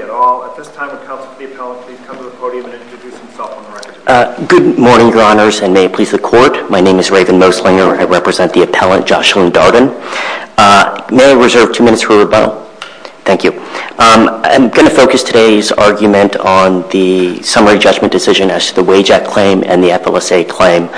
At all. At this time, would counsel to the appellant please come to the podium and introduce himself on the record. Good morning, your honors, and may it please the court. My name is Raven Moslinger. I represent the appellant, Jocelyn Darden. May I reserve two minutes for rebuttal? Thank you. I'm going to focus today's argument on the summary judgment decision as to the WAIJAC claim and the FLSA claim.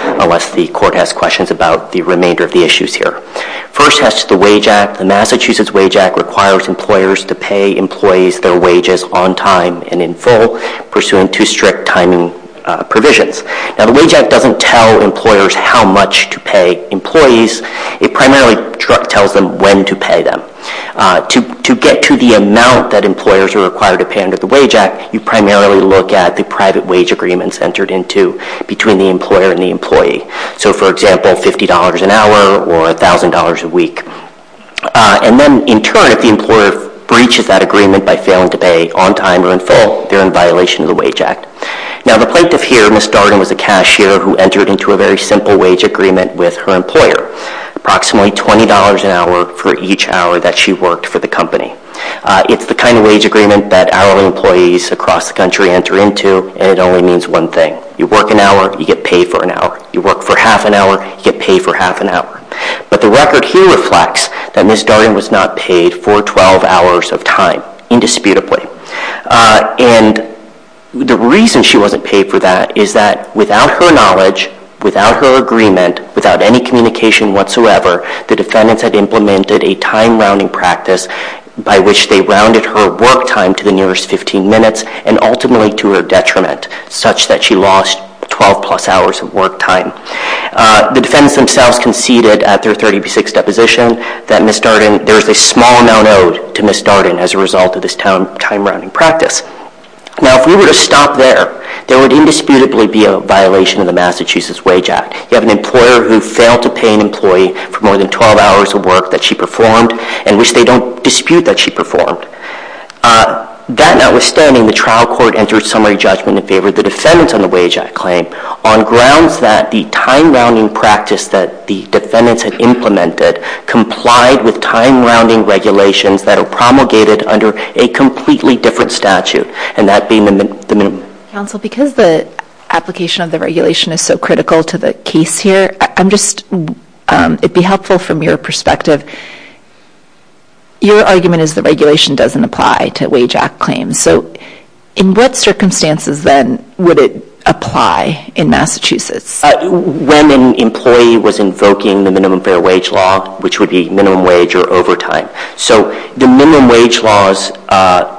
First, as to the WAIJAC, the Massachusetts WAIJAC requires employers to pay employees their wages on time and in full, pursuant to strict timing provisions. Now, the WAIJAC doesn't tell employers how much to pay employees. It primarily tells them when to pay them. To get to the amount that employers are required to pay under the WAIJAC, you primarily look at the private wage agreements entered into between the employer and the employee. So for example, $50 an hour or $1,000 a week. And then in turn, if the employer breaches that agreement by failing to pay on time or in full, they're in violation of the WAIJAC. Now, the plaintiff here, Ms. Darden, was a cashier who entered into a very simple wage agreement with her employer, approximately $20 an hour for each hour that she worked for the company. It's the kind of wage agreement that our employees across the country enter into, and it only means one thing. You work an hour, you get paid for an hour. You work for half an hour, you get paid for half an hour. But the record here reflects that Ms. Darden was not paid for 12 hours of time, indisputably. And the reason she wasn't paid for that is that without her knowledge, without her agreement, without any communication whatsoever, the defendants had implemented a time rounding practice by which they rounded her work time to the nearest 15 minutes, and ultimately to her detriment, such that she lost 12 plus hours of work time. The defendants themselves conceded at their 36th deposition that Ms. Darden, there is a small amount owed to Ms. Darden as a result of this time rounding practice. Now, if we were to stop there, there would indisputably be a violation of the Massachusetts WAIJAC. You have an employer who failed to pay an employee for more than 12 hours of work that she performed and which they don't dispute that she performed. That notwithstanding, the trial court entered summary judgment in favor of the defendants on the WAIJAC claim on grounds that the time rounding practice that the defendants had implemented complied with time rounding regulations that are promulgated under a completely different statute, and that being the minimum. Counsel, because the application of the regulation is so critical to the case here, I'm just wondering if it would be helpful from your perspective, your argument is the regulation doesn't apply to WAIJAC claims. In what circumstances then would it apply in Massachusetts? When an employee was invoking the minimum fair wage law, which would be minimum wage or overtime. The minimum wage laws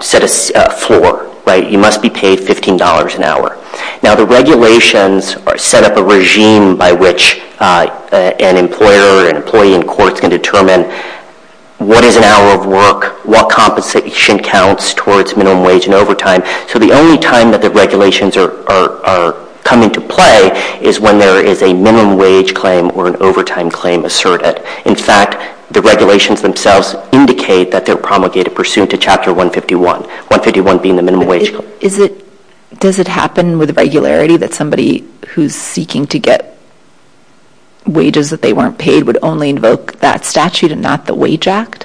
set a floor. You must be paid $15 an hour. Now, the regulations set up a regime by which an employer, an employee in court can determine what is an hour of work, what compensation counts towards minimum wage and overtime. So the only time that the regulations are coming to play is when there is a minimum wage claim or an overtime claim asserted. In fact, the regulations themselves indicate that they're promulgated pursuant to Chapter 151, 151 being the minimum wage claim. But does it happen with regularity that somebody who's seeking to get wages that they weren't paid would only invoke that statute and not the WAIJAC?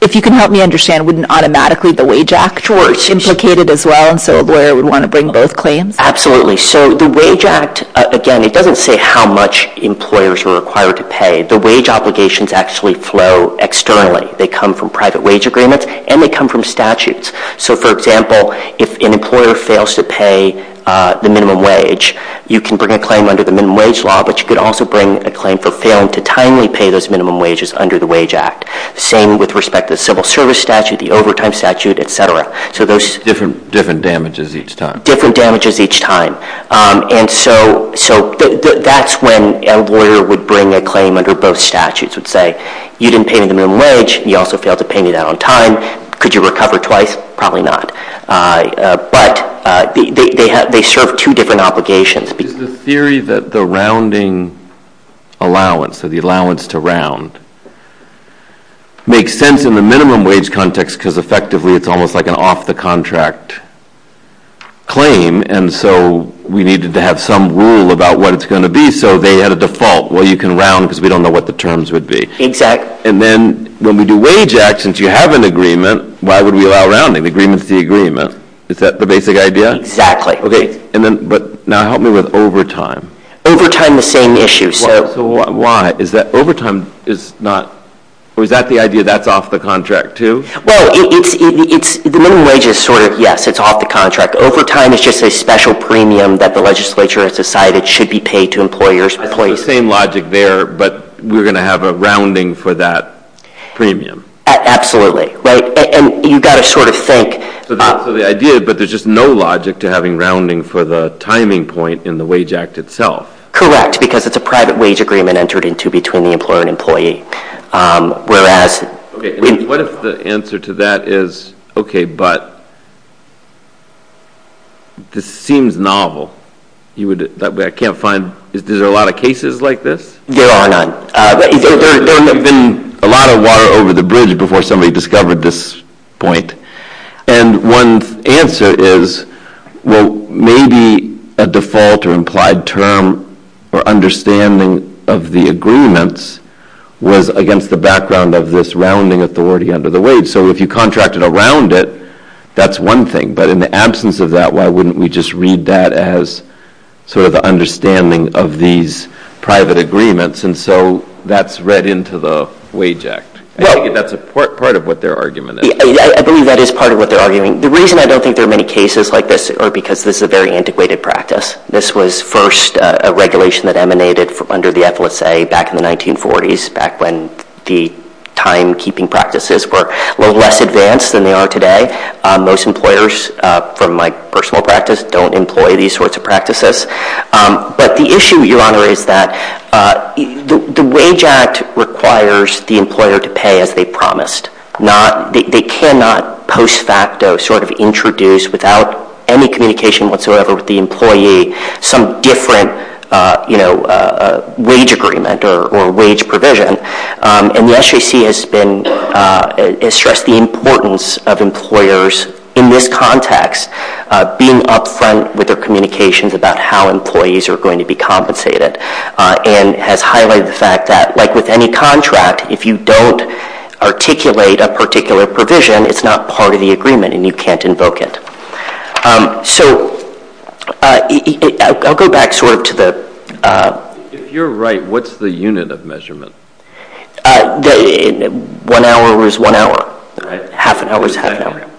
If you can help me understand, wouldn't automatically the WAIJAC implicated as well, and so a lawyer would want to bring both claims? Absolutely. So the WAIJAC, again, it doesn't say how much employers were required to pay. The wage obligations actually flow externally. They come from private wage agreements and they come from statutes. So for example, if an employer fails to pay the minimum wage, you can bring a claim under the minimum wage law, but you could also bring a claim for failing to timely pay those minimum wages under the WAIJAC. Same with respect to the civil service statute, the overtime statute, et cetera. So those- Different damages each time. Different damages each time. And so that's when a lawyer would bring a claim under both statutes and say, you didn't pay me the minimum wage, you also failed to pay me that on time, could you recover twice? Probably not. But they serve two different obligations. Is the theory that the rounding allowance, or the allowance to round, makes sense in the minimum wage context because effectively it's almost like an off-the-contract claim, and so we needed to have some rule about what it's going to be, so they had a default, well, you can round because we don't know what the terms would be. Exactly. And then when we do WAIJAC, since you have an agreement, why would we allow rounding? The agreement's the agreement. Is that the basic idea? Exactly. And then, but now help me with overtime. Overtime, the same issue. So- Why? Is that overtime is not, or is that the idea that's off the contract, too? Well, it's, the minimum wage is sort of, yes, it's off the contract. Overtime is just a special premium that the legislature has decided should be paid to employers and employees. So it's sort of the same logic there, but we're going to have a rounding for that premium. Absolutely. And you've got to sort of think- So the idea, but there's just no logic to having rounding for the timing point in the WAIJAC itself. Correct. Because it's a private wage agreement entered into between the employer and employee, whereas- Okay. What if the answer to that is, okay, but this seems novel. You would, I can't find, is there a lot of cases? There are not. There would have been a lot of water over the bridge before somebody discovered this point. And one answer is, well, maybe a default or implied term or understanding of the agreements was against the background of this rounding authority under the wage. So if you contracted around it, that's one thing. But in the absence of that, why wouldn't we just read that as sort of the understanding of these private agreements? And so that's read into the WAIJAC. That's a part of what their argument is. I believe that is part of what they're arguing. The reason I don't think there are many cases like this is because this is a very antiquated practice. This was first a regulation that emanated under the EFLSA back in the 1940s, back when the timekeeping practices were a little less advanced than they are today. Most employers, from my personal practice, don't employ these sorts of practices. But the issue, Your Honor, is that the WAIJAC requires the employer to pay as they promised. They cannot post facto sort of introduce, without any communication whatsoever with the employee, some different wage agreement or wage provision. And the SJC has stressed the importance of employers, in this context, being upfront with their communications about how employees are going to be compensated, and has highlighted the fact that, like with any contract, if you don't articulate a particular provision, it's not part of the agreement, and you can't invoke it. So I'll go back sort of to the... If you're right, what's the unit of measurement? One hour is one hour. Half an hour is half an hour.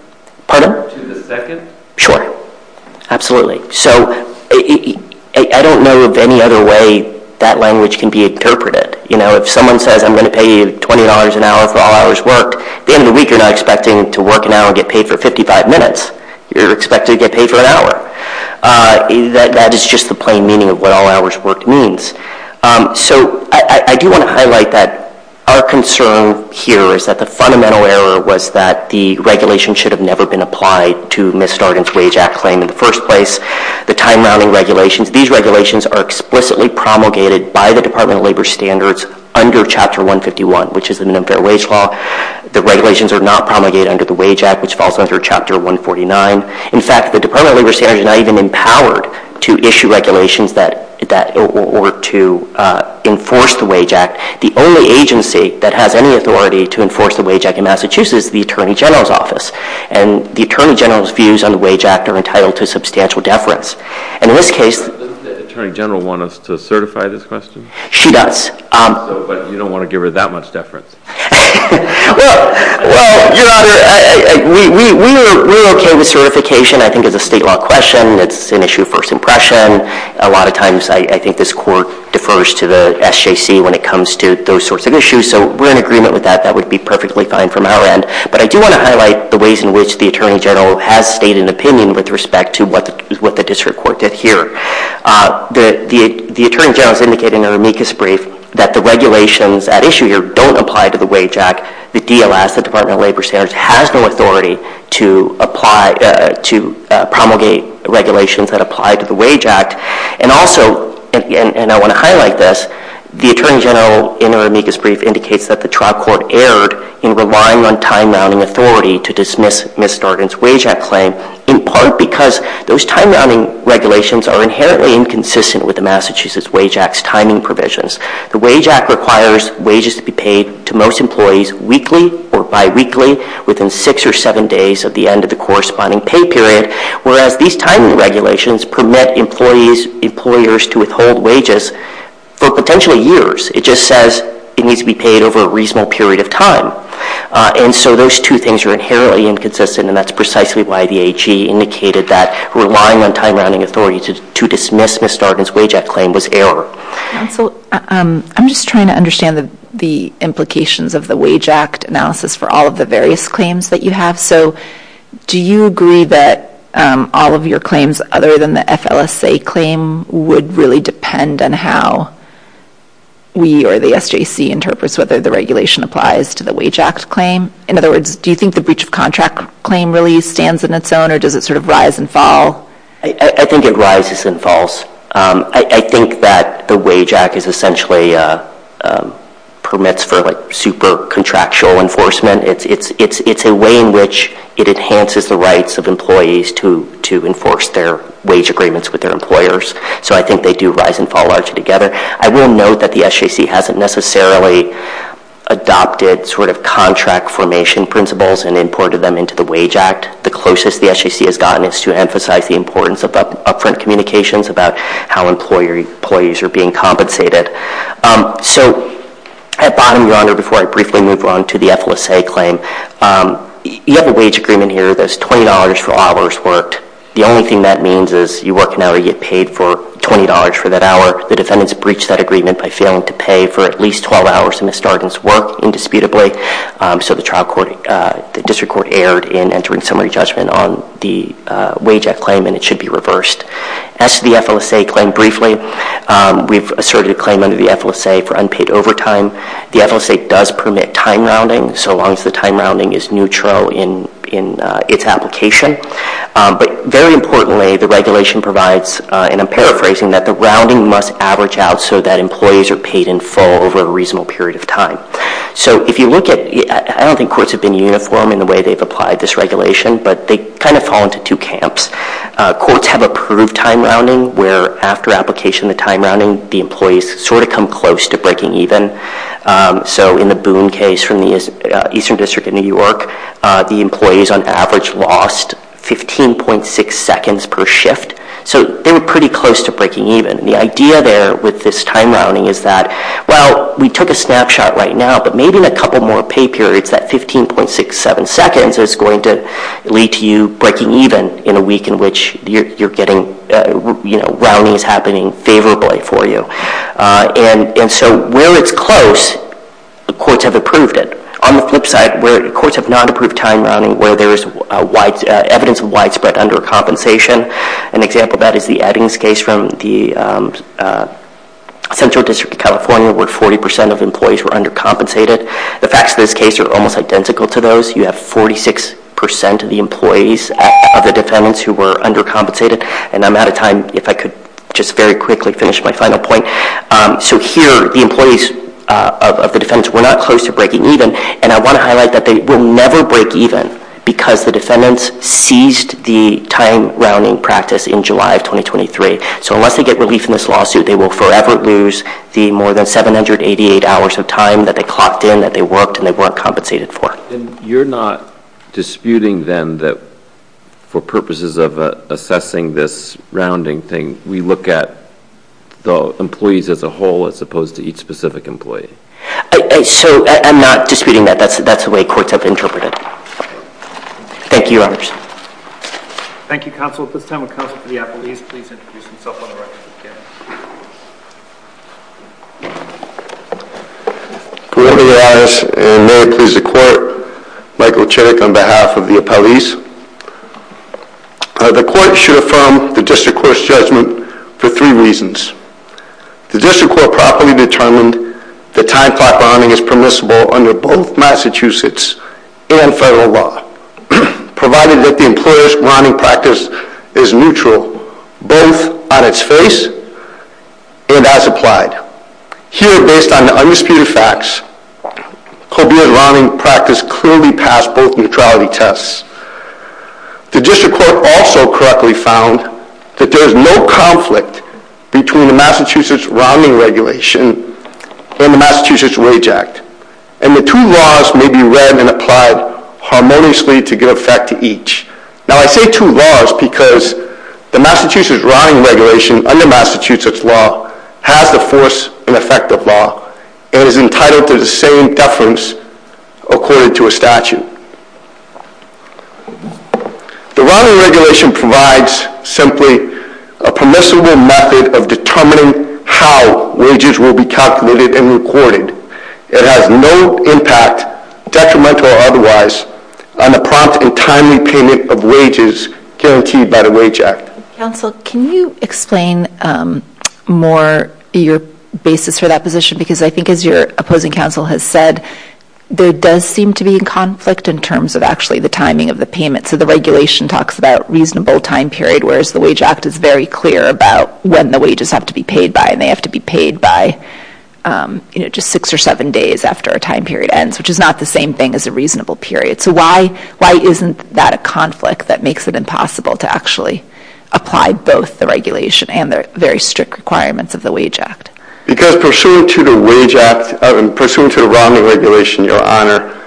Pardon? To the second? Sure. Absolutely. So I don't know of any other way that language can be interpreted. If someone says, I'm going to pay you $20 an hour for all hours worked, at the end of the week, you're not expecting to work an hour and get paid for 55 minutes. You're expected to get paid for an hour. That is just the plain meaning of what all hours worked means. So I do want to highlight that our concern here is that the fundamental error was that the regulation should have never been applied to Ms. Stargan's Wage Act claim in the first place. The time-rounding regulations, these regulations are explicitly promulgated by the Department of Labor Standards under Chapter 151, which is the Minimum Fair Wage Law. The regulations are not promulgated under the Wage Act, which falls under Chapter 149. In fact, the Department of Labor Standards is not even empowered to issue regulations that... Or to enforce the Wage Act. The only agency that has any authority to enforce the Wage Act in Massachusetts is the Attorney General's Office. And the Attorney General's views on the Wage Act are entitled to substantial deference. And in this case... Doesn't the Attorney General want us to certify this question? She does. But you don't want to give her that much deference. Well, Your Honor, we're okay with certification. I think it's a state law question. It's an issue of first impression. A lot of times I think this Court defers to the SJC when it comes to those sorts of issues. So we're in agreement with that. That would be perfectly fine from our end. But I do want to highlight the ways in which the Attorney General has stayed in opinion with respect to what the District Court did here. The Attorney General is indicating in her amicus brief that the regulations at issue here don't apply to the Wage Act. The DLS, the Department of Labor Standards, has no authority to apply... To promulgate regulations that apply to the Wage Act. And also... And I want to highlight this. The Attorney General, in her amicus brief, indicates that the trial court erred in relying on time-rounding authority to dismiss Ms. Darden's Wage Act claim. In part because those time-rounding regulations are inherently inconsistent with the Massachusetts Wage Act's timing provisions. The Wage Act requires wages to be paid to most employees weekly or bi-weekly within six or seven days of the end of the corresponding pay period. Whereas these timing regulations permit employees... Employers to withhold wages for potentially years. It just says it needs to be paid over a reasonable period of time. And so those two things are inherently inconsistent. And that's precisely why the AG indicated that relying on time-rounding authority to dismiss Ms. Darden's Wage Act claim was error. Counsel, I'm just trying to understand the implications of the Wage Act analysis for all of the various claims that you have. So, do you agree that all of your claims other than the FLSA claim would really depend on how we or the SJC interprets whether the regulation applies to the Wage Act claim? In other words, do you think the breach of contract claim really stands in its own? Or does it sort of rise and fall? I think it rises and falls. I think that the Wage Act is essentially permits for super-contractual enforcement. It's a way in which it enhances the rights of employees to enforce their wage agreements with their employers. So I think they do rise and fall largely together. I will note that the SJC hasn't necessarily adopted sort of contract formation principles and imported them into the Wage Act. The closest the SJC has gotten is to emphasize the importance of upfront communications about how employees are being compensated. So, I have bottomed you on there before I briefly move on to the FLSA claim. You have a wage agreement here that's $20 for hours worked. The only thing that means is you work an hour, you get paid for $20 for that hour. The defendants breached that agreement by failing to pay for at least 12 hours of misdemeanors work, indisputably. So the district court erred in entering summary judgment on the Wage Act claim and it should be reversed. As to the FLSA claim, briefly, we've asserted a claim under the FLSA for unpaid overtime. The FLSA does permit time rounding, so long as the time rounding is neutral in its application. But very importantly, the regulation provides, and I'm paraphrasing, that the rounding must average out so that employees are paid in full over a reasonable period of time. So if you look at, I don't think courts have been uniform in the way they've applied this regulation, but they kind of fall into two camps. Courts have approved time rounding where after application of the time rounding, the employees sort of come close to breaking even. So in the Boone case from the Eastern District of New York, the employees on average lost 15.6 seconds per shift. So they were pretty close to breaking even. The idea there with this time rounding is that, well, we took a snapshot right now, but maybe in a couple more pay periods, that 15.67 seconds is going to lead to you breaking even in a week in which you're getting, you know, rounding is happening favorably for you. And so where it's close, the courts have approved it. On the flip side, where the courts have not approved time rounding, where there is evidence of widespread undercompensation, an example of that is the Eddings case from the Central District of California, where 40% of employees were undercompensated. The facts of this case are almost identical to those. You have 46% of the employees of the defendants who were undercompensated. And I'm out of time. If I could just very quickly finish my final point. So here, the employees of the defendants were not close to breaking even. And I want to highlight that they will never break even because the defendants seized the time rounding practice in July of 2023. So unless they get relief in this lawsuit, they will forever lose the more than 788 hours of time that they clocked in, that they worked, and they weren't compensated for. And you're not disputing, then, that for purposes of assessing this rounding thing, we look at the employees as a whole as opposed to each specific employee? So I'm not disputing that. That's the way courts have interpreted it. Thank you, Your Honors. Thank you, Counsel. At this time, would Counsel for the Appellees please introduce themselves on the record? Good morning, Your Honors, and may it please the Court, Michael Chittick on behalf of the Appellees. The Court should affirm the District Court's judgment for three reasons. The District Court properly determined that time clock rounding is permissible under both Massachusetts and federal law, provided that the employer's rounding practice is neutral, both on its face and as applied. Here, based on the undisputed facts, Colbert's rounding practice clearly passed both neutrality tests. The District Court also correctly found that there is no conflict between the Massachusetts Rounding Regulation and the Massachusetts Wage Act, and the two laws may be read and applied harmoniously to give effect to each. Now, I say two laws because the Massachusetts Rounding Regulation under Massachusetts law has the force and effect of law, and is entitled to the same deference according to a statute. The Rounding Regulation provides simply a permissible method of determining how wages will be calculated and recorded. It has no impact, detrimental or otherwise, on the prompt and timely payment of wages guaranteed by the Wage Act. Counsel, can you explain more your basis for that position? Because I think as your opposing counsel has said, there does seem to be a conflict in terms of actually the timing of the payment. So the regulation talks about reasonable time period, whereas the Wage Act is very clear about when the wages have to be paid by, and they have to be paid by, you know, just six or seven days after a time period ends, which is not the same thing as a reasonable period. So why isn't that a conflict that makes it impossible to actually apply both the regulation and the very strict requirements of the Wage Act? Because pursuant to the Wage Act, pursuant to the Rounding Regulation, Your Honor,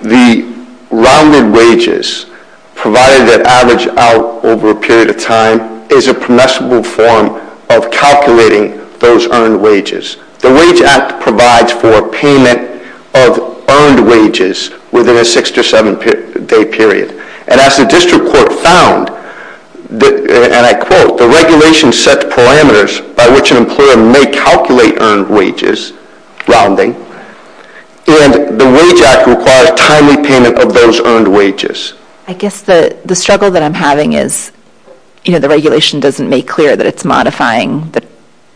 the rounded wages, provided they're averaged out over a period of time, is a permissible form of calculating those earned wages. The Wage Act provides for payment of earned wages within a six- to seven-day period. And as the district court found, and I quote, the regulation sets parameters by which an employer may calculate earned wages, rounding, and the Wage Act requires timely payment of those earned wages. I guess the struggle that I'm having is, you know, the regulation doesn't make clear that it's modifying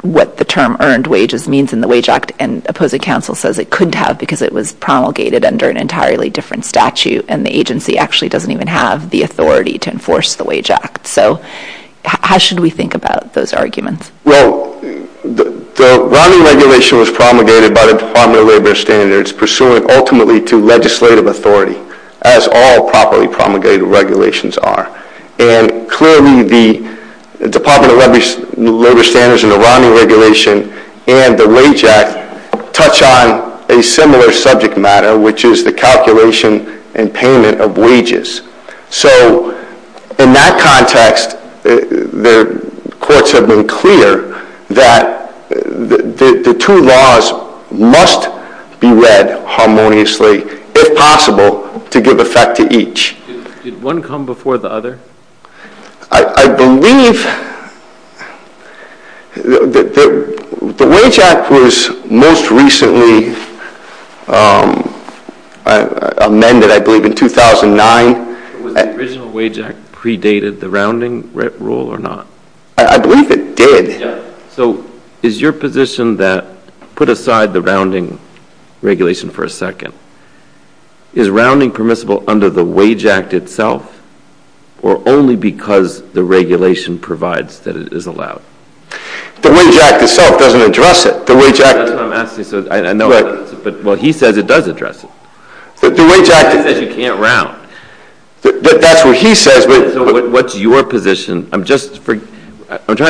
what the term earned wages means in the Wage Act and opposing counsel says it couldn't have because it was promulgated under an entirely different statute and the agency actually doesn't even have the authority to enforce the Wage Act. So how should we think about those arguments? Well, the Rounding Regulation was promulgated by the Department of Labor Standards, pursuant ultimately to legislative authority, as all properly promulgated regulations are. And clearly the Department of Labor Standards and the Rounding Regulation and the Wage Act touch on a similar subject matter, which is the calculation and payment of wages. So in that context, the courts have been clear that the two laws must be read harmoniously, if possible, to give effect to each. Did one come before the other? I believe... The Wage Act was most recently amended, I believe, in 2009. Was the original Wage Act predated the Rounding Rule or not? I believe it did. So is your position that, put aside the Rounding Regulation for a second, is rounding permissible under the Wage Act itself or only because the regulation provides that it is allowed? The Wage Act itself doesn't address it. That's what I'm asking. Well, he says it does address it. He says you can't round. That's what he says. So what's your position? I'm trying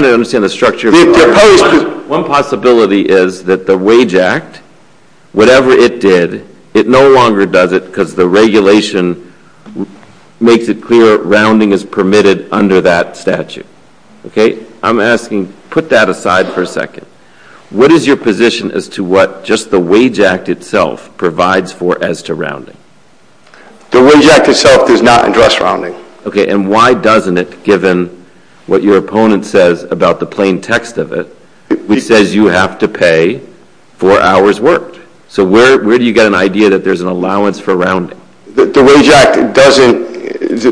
to understand the structure. One possibility is that the Wage Act, whatever it did, it no longer does it because the regulation makes it clear rounding is permitted under that statute. Okay? I'm asking, put that aside for a second. What is your position as to what just the Wage Act itself provides for as to rounding? The Wage Act itself does not address rounding. Okay, and why doesn't it, given what your opponent says about the plain text of it, which says you have to pay for hours worked. So where do you get an idea that there's an allowance for rounding? The Wage Act doesn't...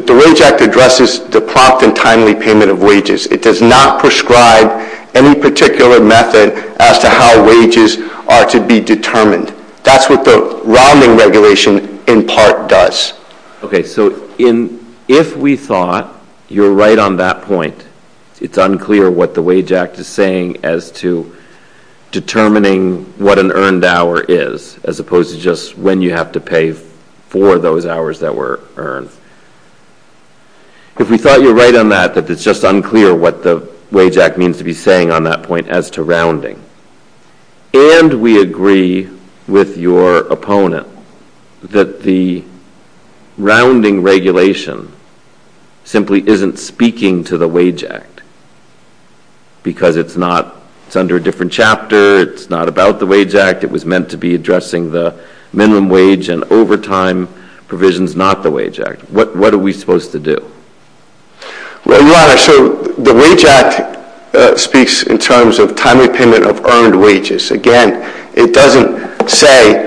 The Wage Act addresses the prompt and timely payment of wages. It does not prescribe any particular method as to how wages are to be determined. That's what the Rounding Regulation in part does. Okay, so if we thought you're right on that point, it's unclear what the Wage Act is saying as to determining what an earned hour is as opposed to just when you have to pay for those hours that were earned. If we thought you're right on that, that it's just unclear what the Wage Act means to be saying on that point as to rounding, and we agree with your opponent that the Rounding Regulation simply isn't speaking to the Wage Act because it's not... It's under a different chapter. It's not about the Wage Act. It was meant to be addressing the minimum wage and overtime provisions, not the Wage Act. What are we supposed to do? Well, Your Honor, so the Wage Act speaks in terms of timely payment of earned wages. Again, it doesn't say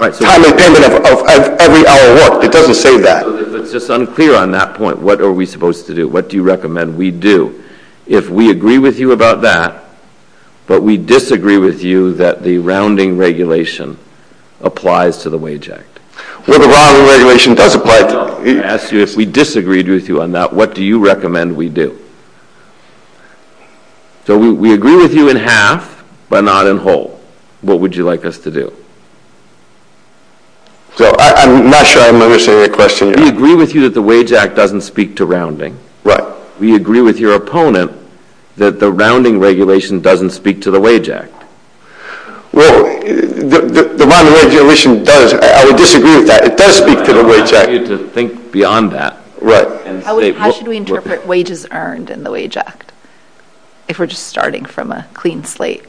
timely payment of every hour worked. It doesn't say that. So if it's just unclear on that point, what are we supposed to do? What do you recommend we do? If we agree with you about that, but we disagree with you that the Rounding Regulation applies to the Wage Act... Well, the Rounding Regulation does apply to... I asked you if we disagreed with you on that. What do you recommend we do? So we agree with you in half, but not in whole. What would you like us to do? So I'm not sure I'm understanding your question. We agree with you that the Wage Act doesn't speak to rounding. We agree with your opponent that the Rounding Regulation doesn't speak to the Wage Act. Well, the Rounding Regulation does. I would disagree with that. It does speak to the Wage Act. I want you to think beyond that. How should we interpret wages earned in the Wage Act? If we're just starting from a clean slate.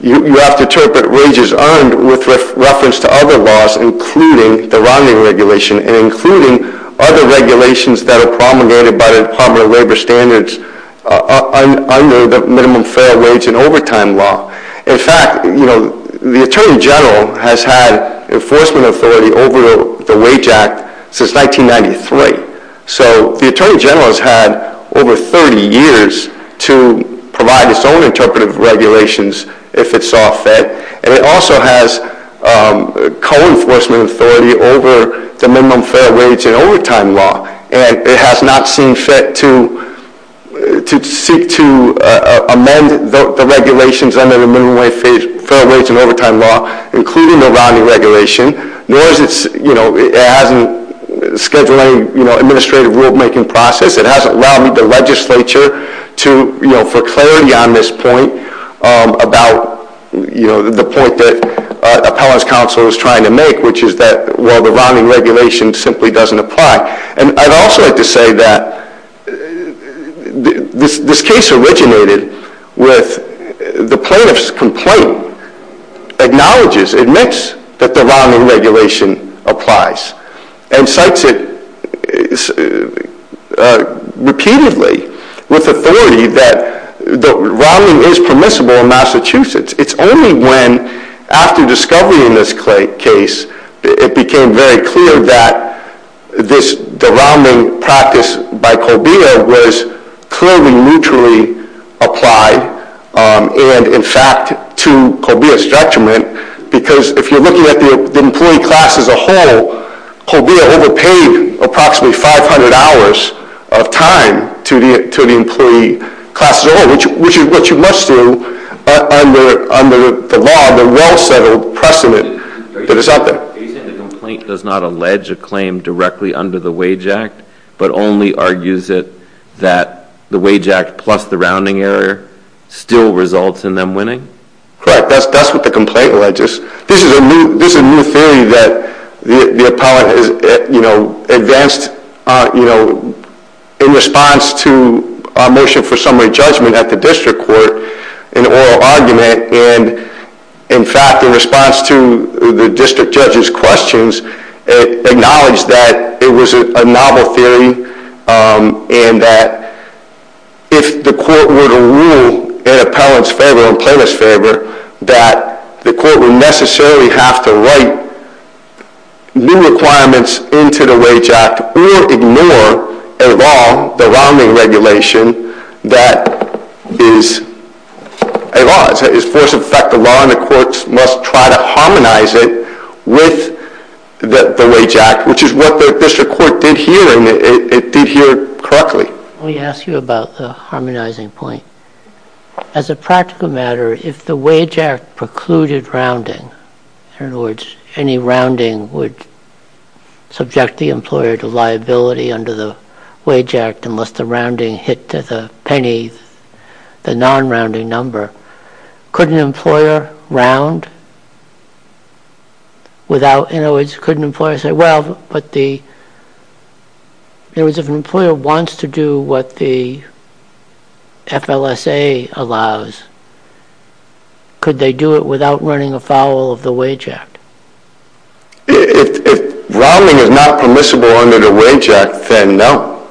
You have to interpret wages earned with reference to other laws, including the Rounding Regulation and including other regulations that are promulgated by the Department of Labor Standards under the Minimum Fair Wage and Overtime Law. In fact, you know, the Attorney General has had enforcement authority over the Wage Act since 1993. So the Attorney General has had over 30 years to provide its own interpretive regulations if it's all fit. And it also has co-enforcement authority over the Minimum Fair Wage and Overtime Law. And it has not seen fit to seek to amend the regulations under the Minimum Fair Wage and Overtime Law, including the Rounding Regulation. Nor has it, you know, it hasn't scheduled any administrative rulemaking process. It hasn't allowed the legislature to, you know, for clarity on this point, um, about, you know, the point that Appellant's Counsel is trying to make, which is that, well, the Rounding Regulation simply doesn't apply. And I'd also like to say that this case originated with the plaintiff's complaint acknowledges, admits, that the Rounding Regulation applies and cites it, uh, repeatedly with authority that the Rounding is permissible in Massachusetts. It's only when, after discovery in this case, it became very clear that this, the Rounding practice by Colbia was clearly neutrally applied, um, and in fact to Colbia's judgment, because if you're looking at the employee class as a whole, Colbia overpaid approximately 500 hours of time to the, to the employee class as a whole, which, which is what you must do under, under the law, the well-settled precedent that it's out there. Are you saying the complaint does not allege a claim directly under the Wage Act, but only argues it that the Wage Act plus the Rounding error still results in them winning? Correct. That's, that's what the complaint alleges. This is a new, this is a new theory that the, the Appellant has you know, advanced, uh, you know, in response to our motion for summary judgment at the District Court, an oral argument and, in fact, in response to the District Judge's questions, acknowledged that it was a novel theory, um, and that if the Court were to rule in Appellant's favor and Plaintiff's favor that the Court would necessarily have to write new requirements into the Wage Act or ignore a law, the Rounding Regulation, that is a law. It's a force of fact, a law and the Court must try to harmonize it with the, the Wage Act, which is what the District Court did here, and it, it did here correctly. Let me ask you about the harmonizing point. As a practical matter, if the Wage Act precluded rounding, in other words, any rounding would subject the employer to liability under the Wage Act unless the rounding hit the penny, the non-rounding number, could an employer round without, in other words, could an employer say, well, but the in other words, if an employer wants to do what the FLSA allows, could they do it without running afoul of the Wage Act? If, if rounding is not permissible under the Wage Act, then no,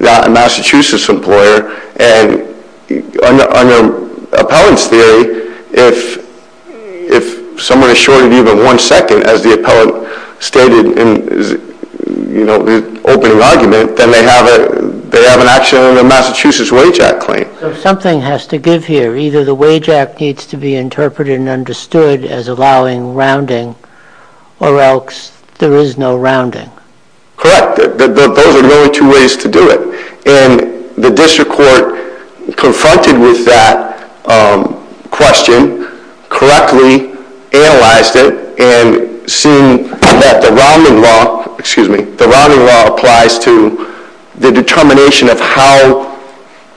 not a Massachusetts employer, and under Appellant's theory, if if someone is shorted even one second, as the Appellant stated in, you know, the opening argument, then they have a, they have an action under the Massachusetts Wage Act claim. So something has to give here. Either the Wage Act needs to be interpreted and understood as allowing rounding, or else there is no rounding. Correct. Those are the only two ways to do it. And the District Court confronted with that question, correctly analyzed it, and seen that the rounding law, excuse me, the rounding law applies to the determination of how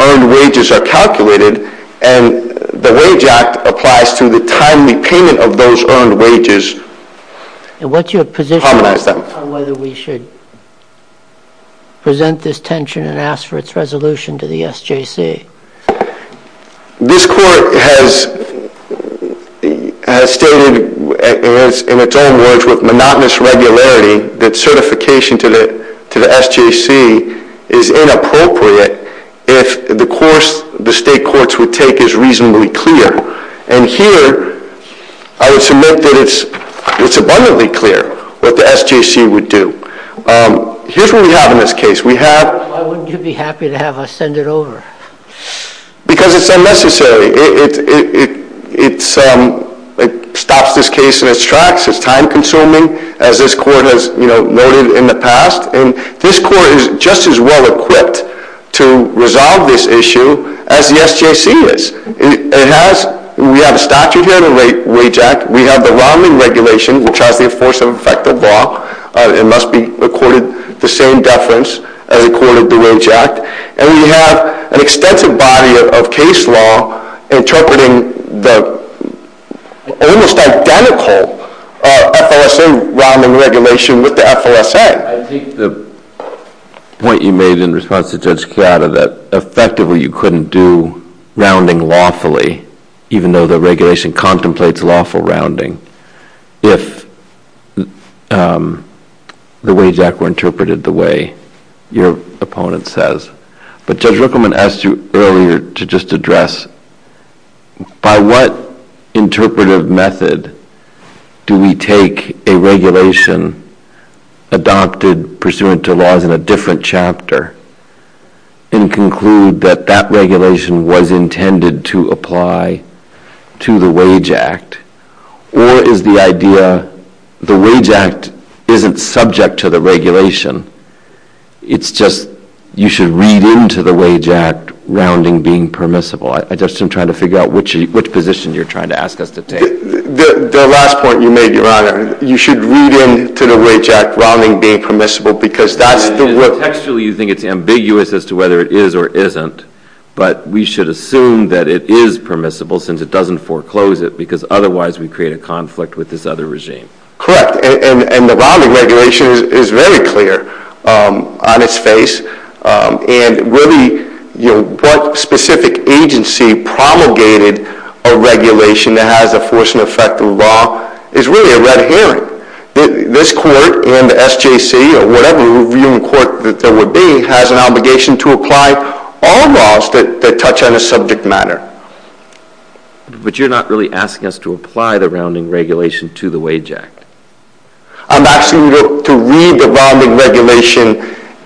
earned wages are calculated, and the Wage Act applies to the timely payment of those earned wages. And what's your position on whether we should present this tension and ask for its resolution to the SJC? This Court has has stated, in its own words, with monotonous regularity, that certification to the to the SJC is inappropriate if the course the State Courts would take is reasonably clear. And here I would submit that it's abundantly clear what the SJC would do. Here's what we have in this case. We have... Why wouldn't you be happy to have us send it over? Because it's unnecessary. It's stops this case in its tracks. It's time consuming, as this Court has noted in the past. And this Court is just as well equipped to resolve this issue as the SJC is. We have a statute here in the Wage Act. We have the rounding regulation, which has the force of effective law. It must be accorded the same deference as according to the Wage Act. And we have an extensive body of case law interpreting the almost identical FOSA rounding regulation with the FOSA. I think the point you made in response to Judge Chiara, that effectively you couldn't do rounding lawfully, even though the regulation contemplates lawful rounding, if the Wage Act were interpreted the way your opponent says. But Judge Rickleman asked you earlier to just address by what interpretive method do we take a regulation adopted pursuant to laws in a different chapter and conclude that that regulation was intended to apply to the Wage Act? Or is the idea the Wage Act isn't subject to the regulation? It's just you should read into the Wage Act rounding being permissible. I'm just trying to figure out which position you're trying to ask us to take. The last point you made, Your Honor, you should read into the Wage Act rounding being permissible because that's the textually you think it's ambiguous as to whether it is or isn't. But we should assume that it is permissible since it doesn't foreclose it because otherwise we create a conflict with this other regime. Correct, and the rounding regulation is very clear on its face and really what specific agency promulgated a regulation that has the force and effect of the law is really a red herring. This Court and the SJC or whatever viewing court that there would be has an obligation to apply all laws that touch on a subject matter. But you're not really asking us to apply the rounding regulation to the Wage Act. I'm asking you to read the rounding regulation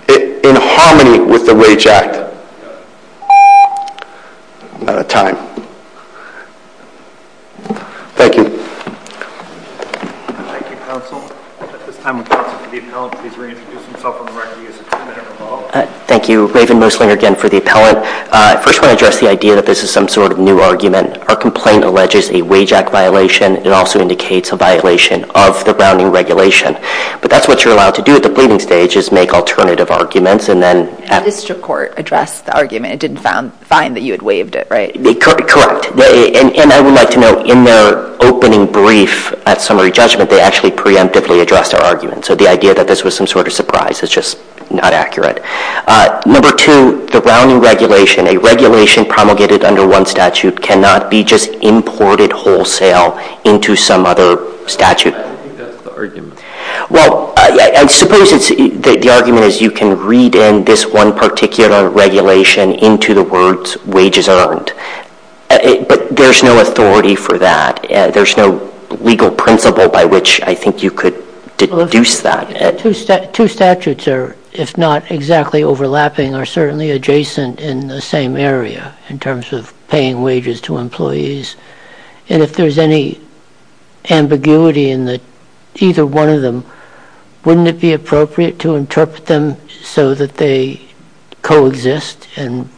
in harmony with the Wage Act. I'm out of time. Thank you. Thank you, Counsel. At this time, would the appellant please reintroduce himself on the record. He has a two-minute revolve. Thank you. Raven Moslinger again for the appellant. First, I want to address the idea that this is some sort of new argument. Our complaint alleges a Wage Act violation. It also indicates a violation of the rounding regulation. But that's what you're allowed to do at the pleading stage is make alternative arguments. The district court addressed the argument. It didn't find that you had waived it, right? Correct. And I would like to note in their opening brief at summary judgment, they actually preemptively addressed our argument. So the idea that this was some sort of surprise is just not accurate. Number two, the rounding regulation, a regulation promulgated under one statute cannot be just imported wholesale into some other statute. I think that's the argument. Well, I suppose the argument is you can read in this one particular regulation into the words wages earned. But there's no authority for that. There's no legal principle by which I think you could deduce that. Two statutes are, if not exactly overlapping, are certainly adjacent in the same area in terms of paying wages to employees. And if there's any ambiguity in either one of them, wouldn't it be appropriate to interpret them so that they coexist and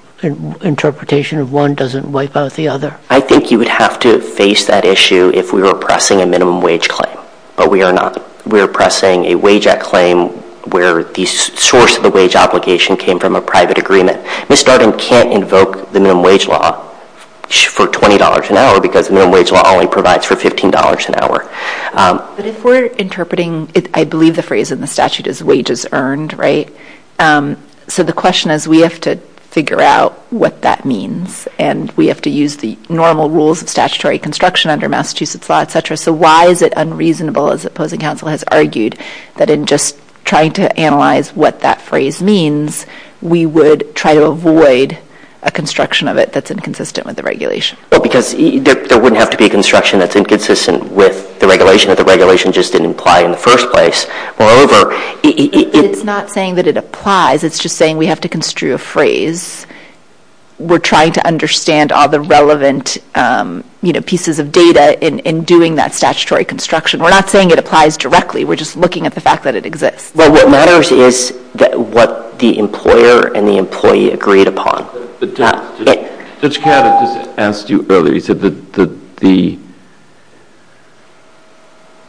interpretation of one doesn't wipe out the other? I think you would have to face that issue if we were pressing a minimum wage claim, but we are not. We are pressing a wage at claim where the source of the wage obligation came from a private agreement. Ms. Darden can't invoke the minimum wage law for $20 an hour because the minimum wage law only provides for $15 an hour. But if we're interpreting I believe the phrase in the statute is wages earned, right? So the question is we have to figure out what that means and we have to use the normal rules of statutory construction under Massachusetts law, etc. So why is it unreasonable, as opposing counsel has argued, that in just trying to analyze what that phrase means we would try to avoid a construction of it that's inconsistent with the regulation? Because there wouldn't have to be a construction that's inconsistent with the regulation if the regulation just didn't apply in the first place. Moreover, it's not saying that it applies. It's just saying we have to construe a phrase. We're trying to understand all the relevant pieces of data in doing that statutory construction. We're not saying it applies directly. We're just looking at the fact that it exists. Well, what matters is what the employer and the employee agreed upon. Judge Kavanaugh just asked you earlier. He said that the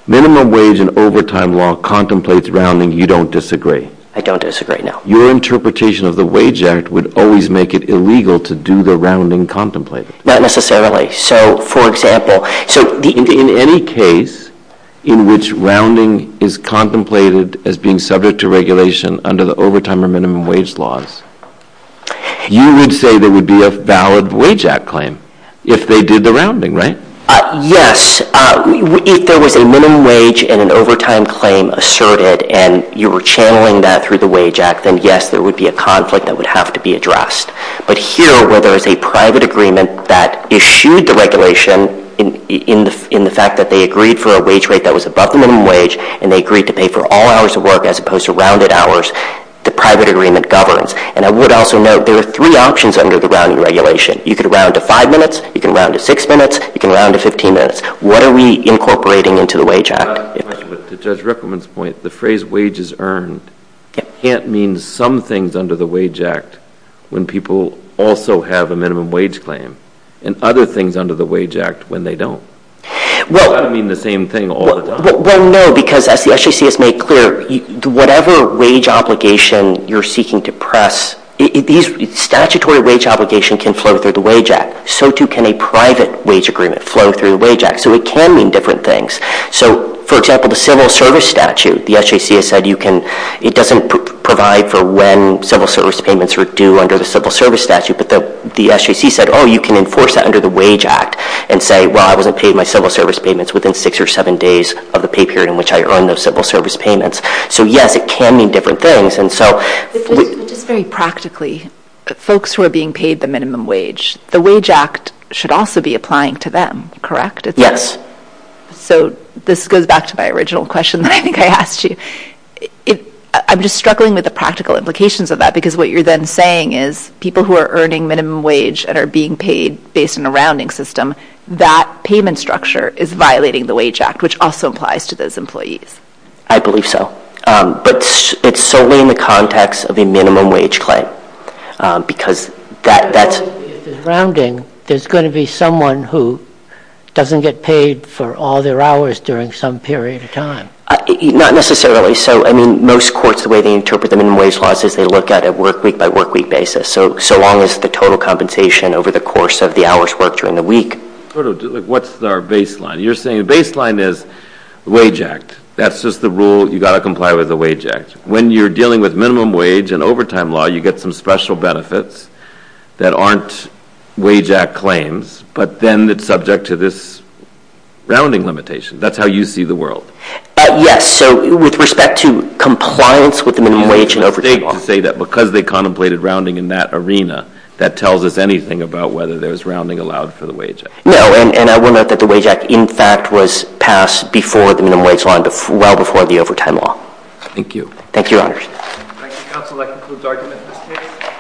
minimum wage and overtime law contemplates rounding. You don't disagree? I don't disagree, no. Your interpretation of the Wage Act would always make it illegal to do the rounding contemplated? Not necessarily. In any case in which rounding is contemplated as being subject to regulation under the overtime or minimum wage laws, you would say there would be a valid Wage Act claim if they did the rounding, right? Yes. If there was a minimum wage and an overtime claim asserted and you were channeling that through the Wage Act, then yes, there would be a conflict that would have to be addressed. But here, where there is a private agreement that issued the regulation in the fact that they agreed for a wage rate that was above the minimum wage and they agreed to pay for all hours of work as opposed to rounded hours, the private agreement governs. And I would also note there are three options under the rounding regulation. You could round to five minutes, you can round to six minutes, you can round to 15 minutes. What are we incorporating into the Wage Act? To Judge Rickleman's point, the phrase wages earned can't mean some things under the Wage Act when people also have a minimum wage claim and other things under the Wage Act when they don't. Well, that would mean the same thing all the time. Well, no, because as the SEC has made clear, whatever wage obligation you're seeking to press, statutory wage obligation can flow through the Wage Act. So too can a private wage agreement flow through the Wage Act. So it can mean different things. So, for example, the civil service statute, the SEC has said it doesn't provide for when civil service payments are due under the civil service statute, but the SEC said, oh, you can enforce that under the Wage Act and say, well, I wasn't paid my civil service payments within six or seven days of the pay period in which I earned those civil service payments. So yes, it can mean different things. But just very practically, folks who are being paid the minimum wage, the Wage Act should also be applying to them, correct? Yes. So this goes back to my original question that I think I asked you. I'm just struggling with the practical implications of that because what you're then saying is people who are earning minimum wage and are being paid based on a rounding system, that payment structure is violating the Wage Act, which also applies to those employees. I believe so. But it's solely in the context of a minimum wage claim. Because that's... If it's rounding, there's going to be someone who doesn't get paid for all their hours during some period of time. Not necessarily. So, I mean, most courts, the way they interpret the minimum wage laws is they look at a work-week-by-work-week basis. So long as the total compensation over the course of the hour's work What's our baseline? You're saying the baseline is the Wage Act. That's just the rule, you've got to comply with the Wage Act. When you're dealing with minimum wage and overtime law, you get some special benefits that aren't Wage Act claims, but then it's subject to this rounding limitation. That's how you see the world. Yes, so with respect to compliance with the minimum wage and overtime law. You have a stake to say that because they contemplated rounding in that arena that tells us anything about whether there's rounding allowed for the Wage Act. No, and I will note that the Wage Act, in fact, was passed before the minimum wage law and well before the overtime law. Thank you. Thank you, Your Honor.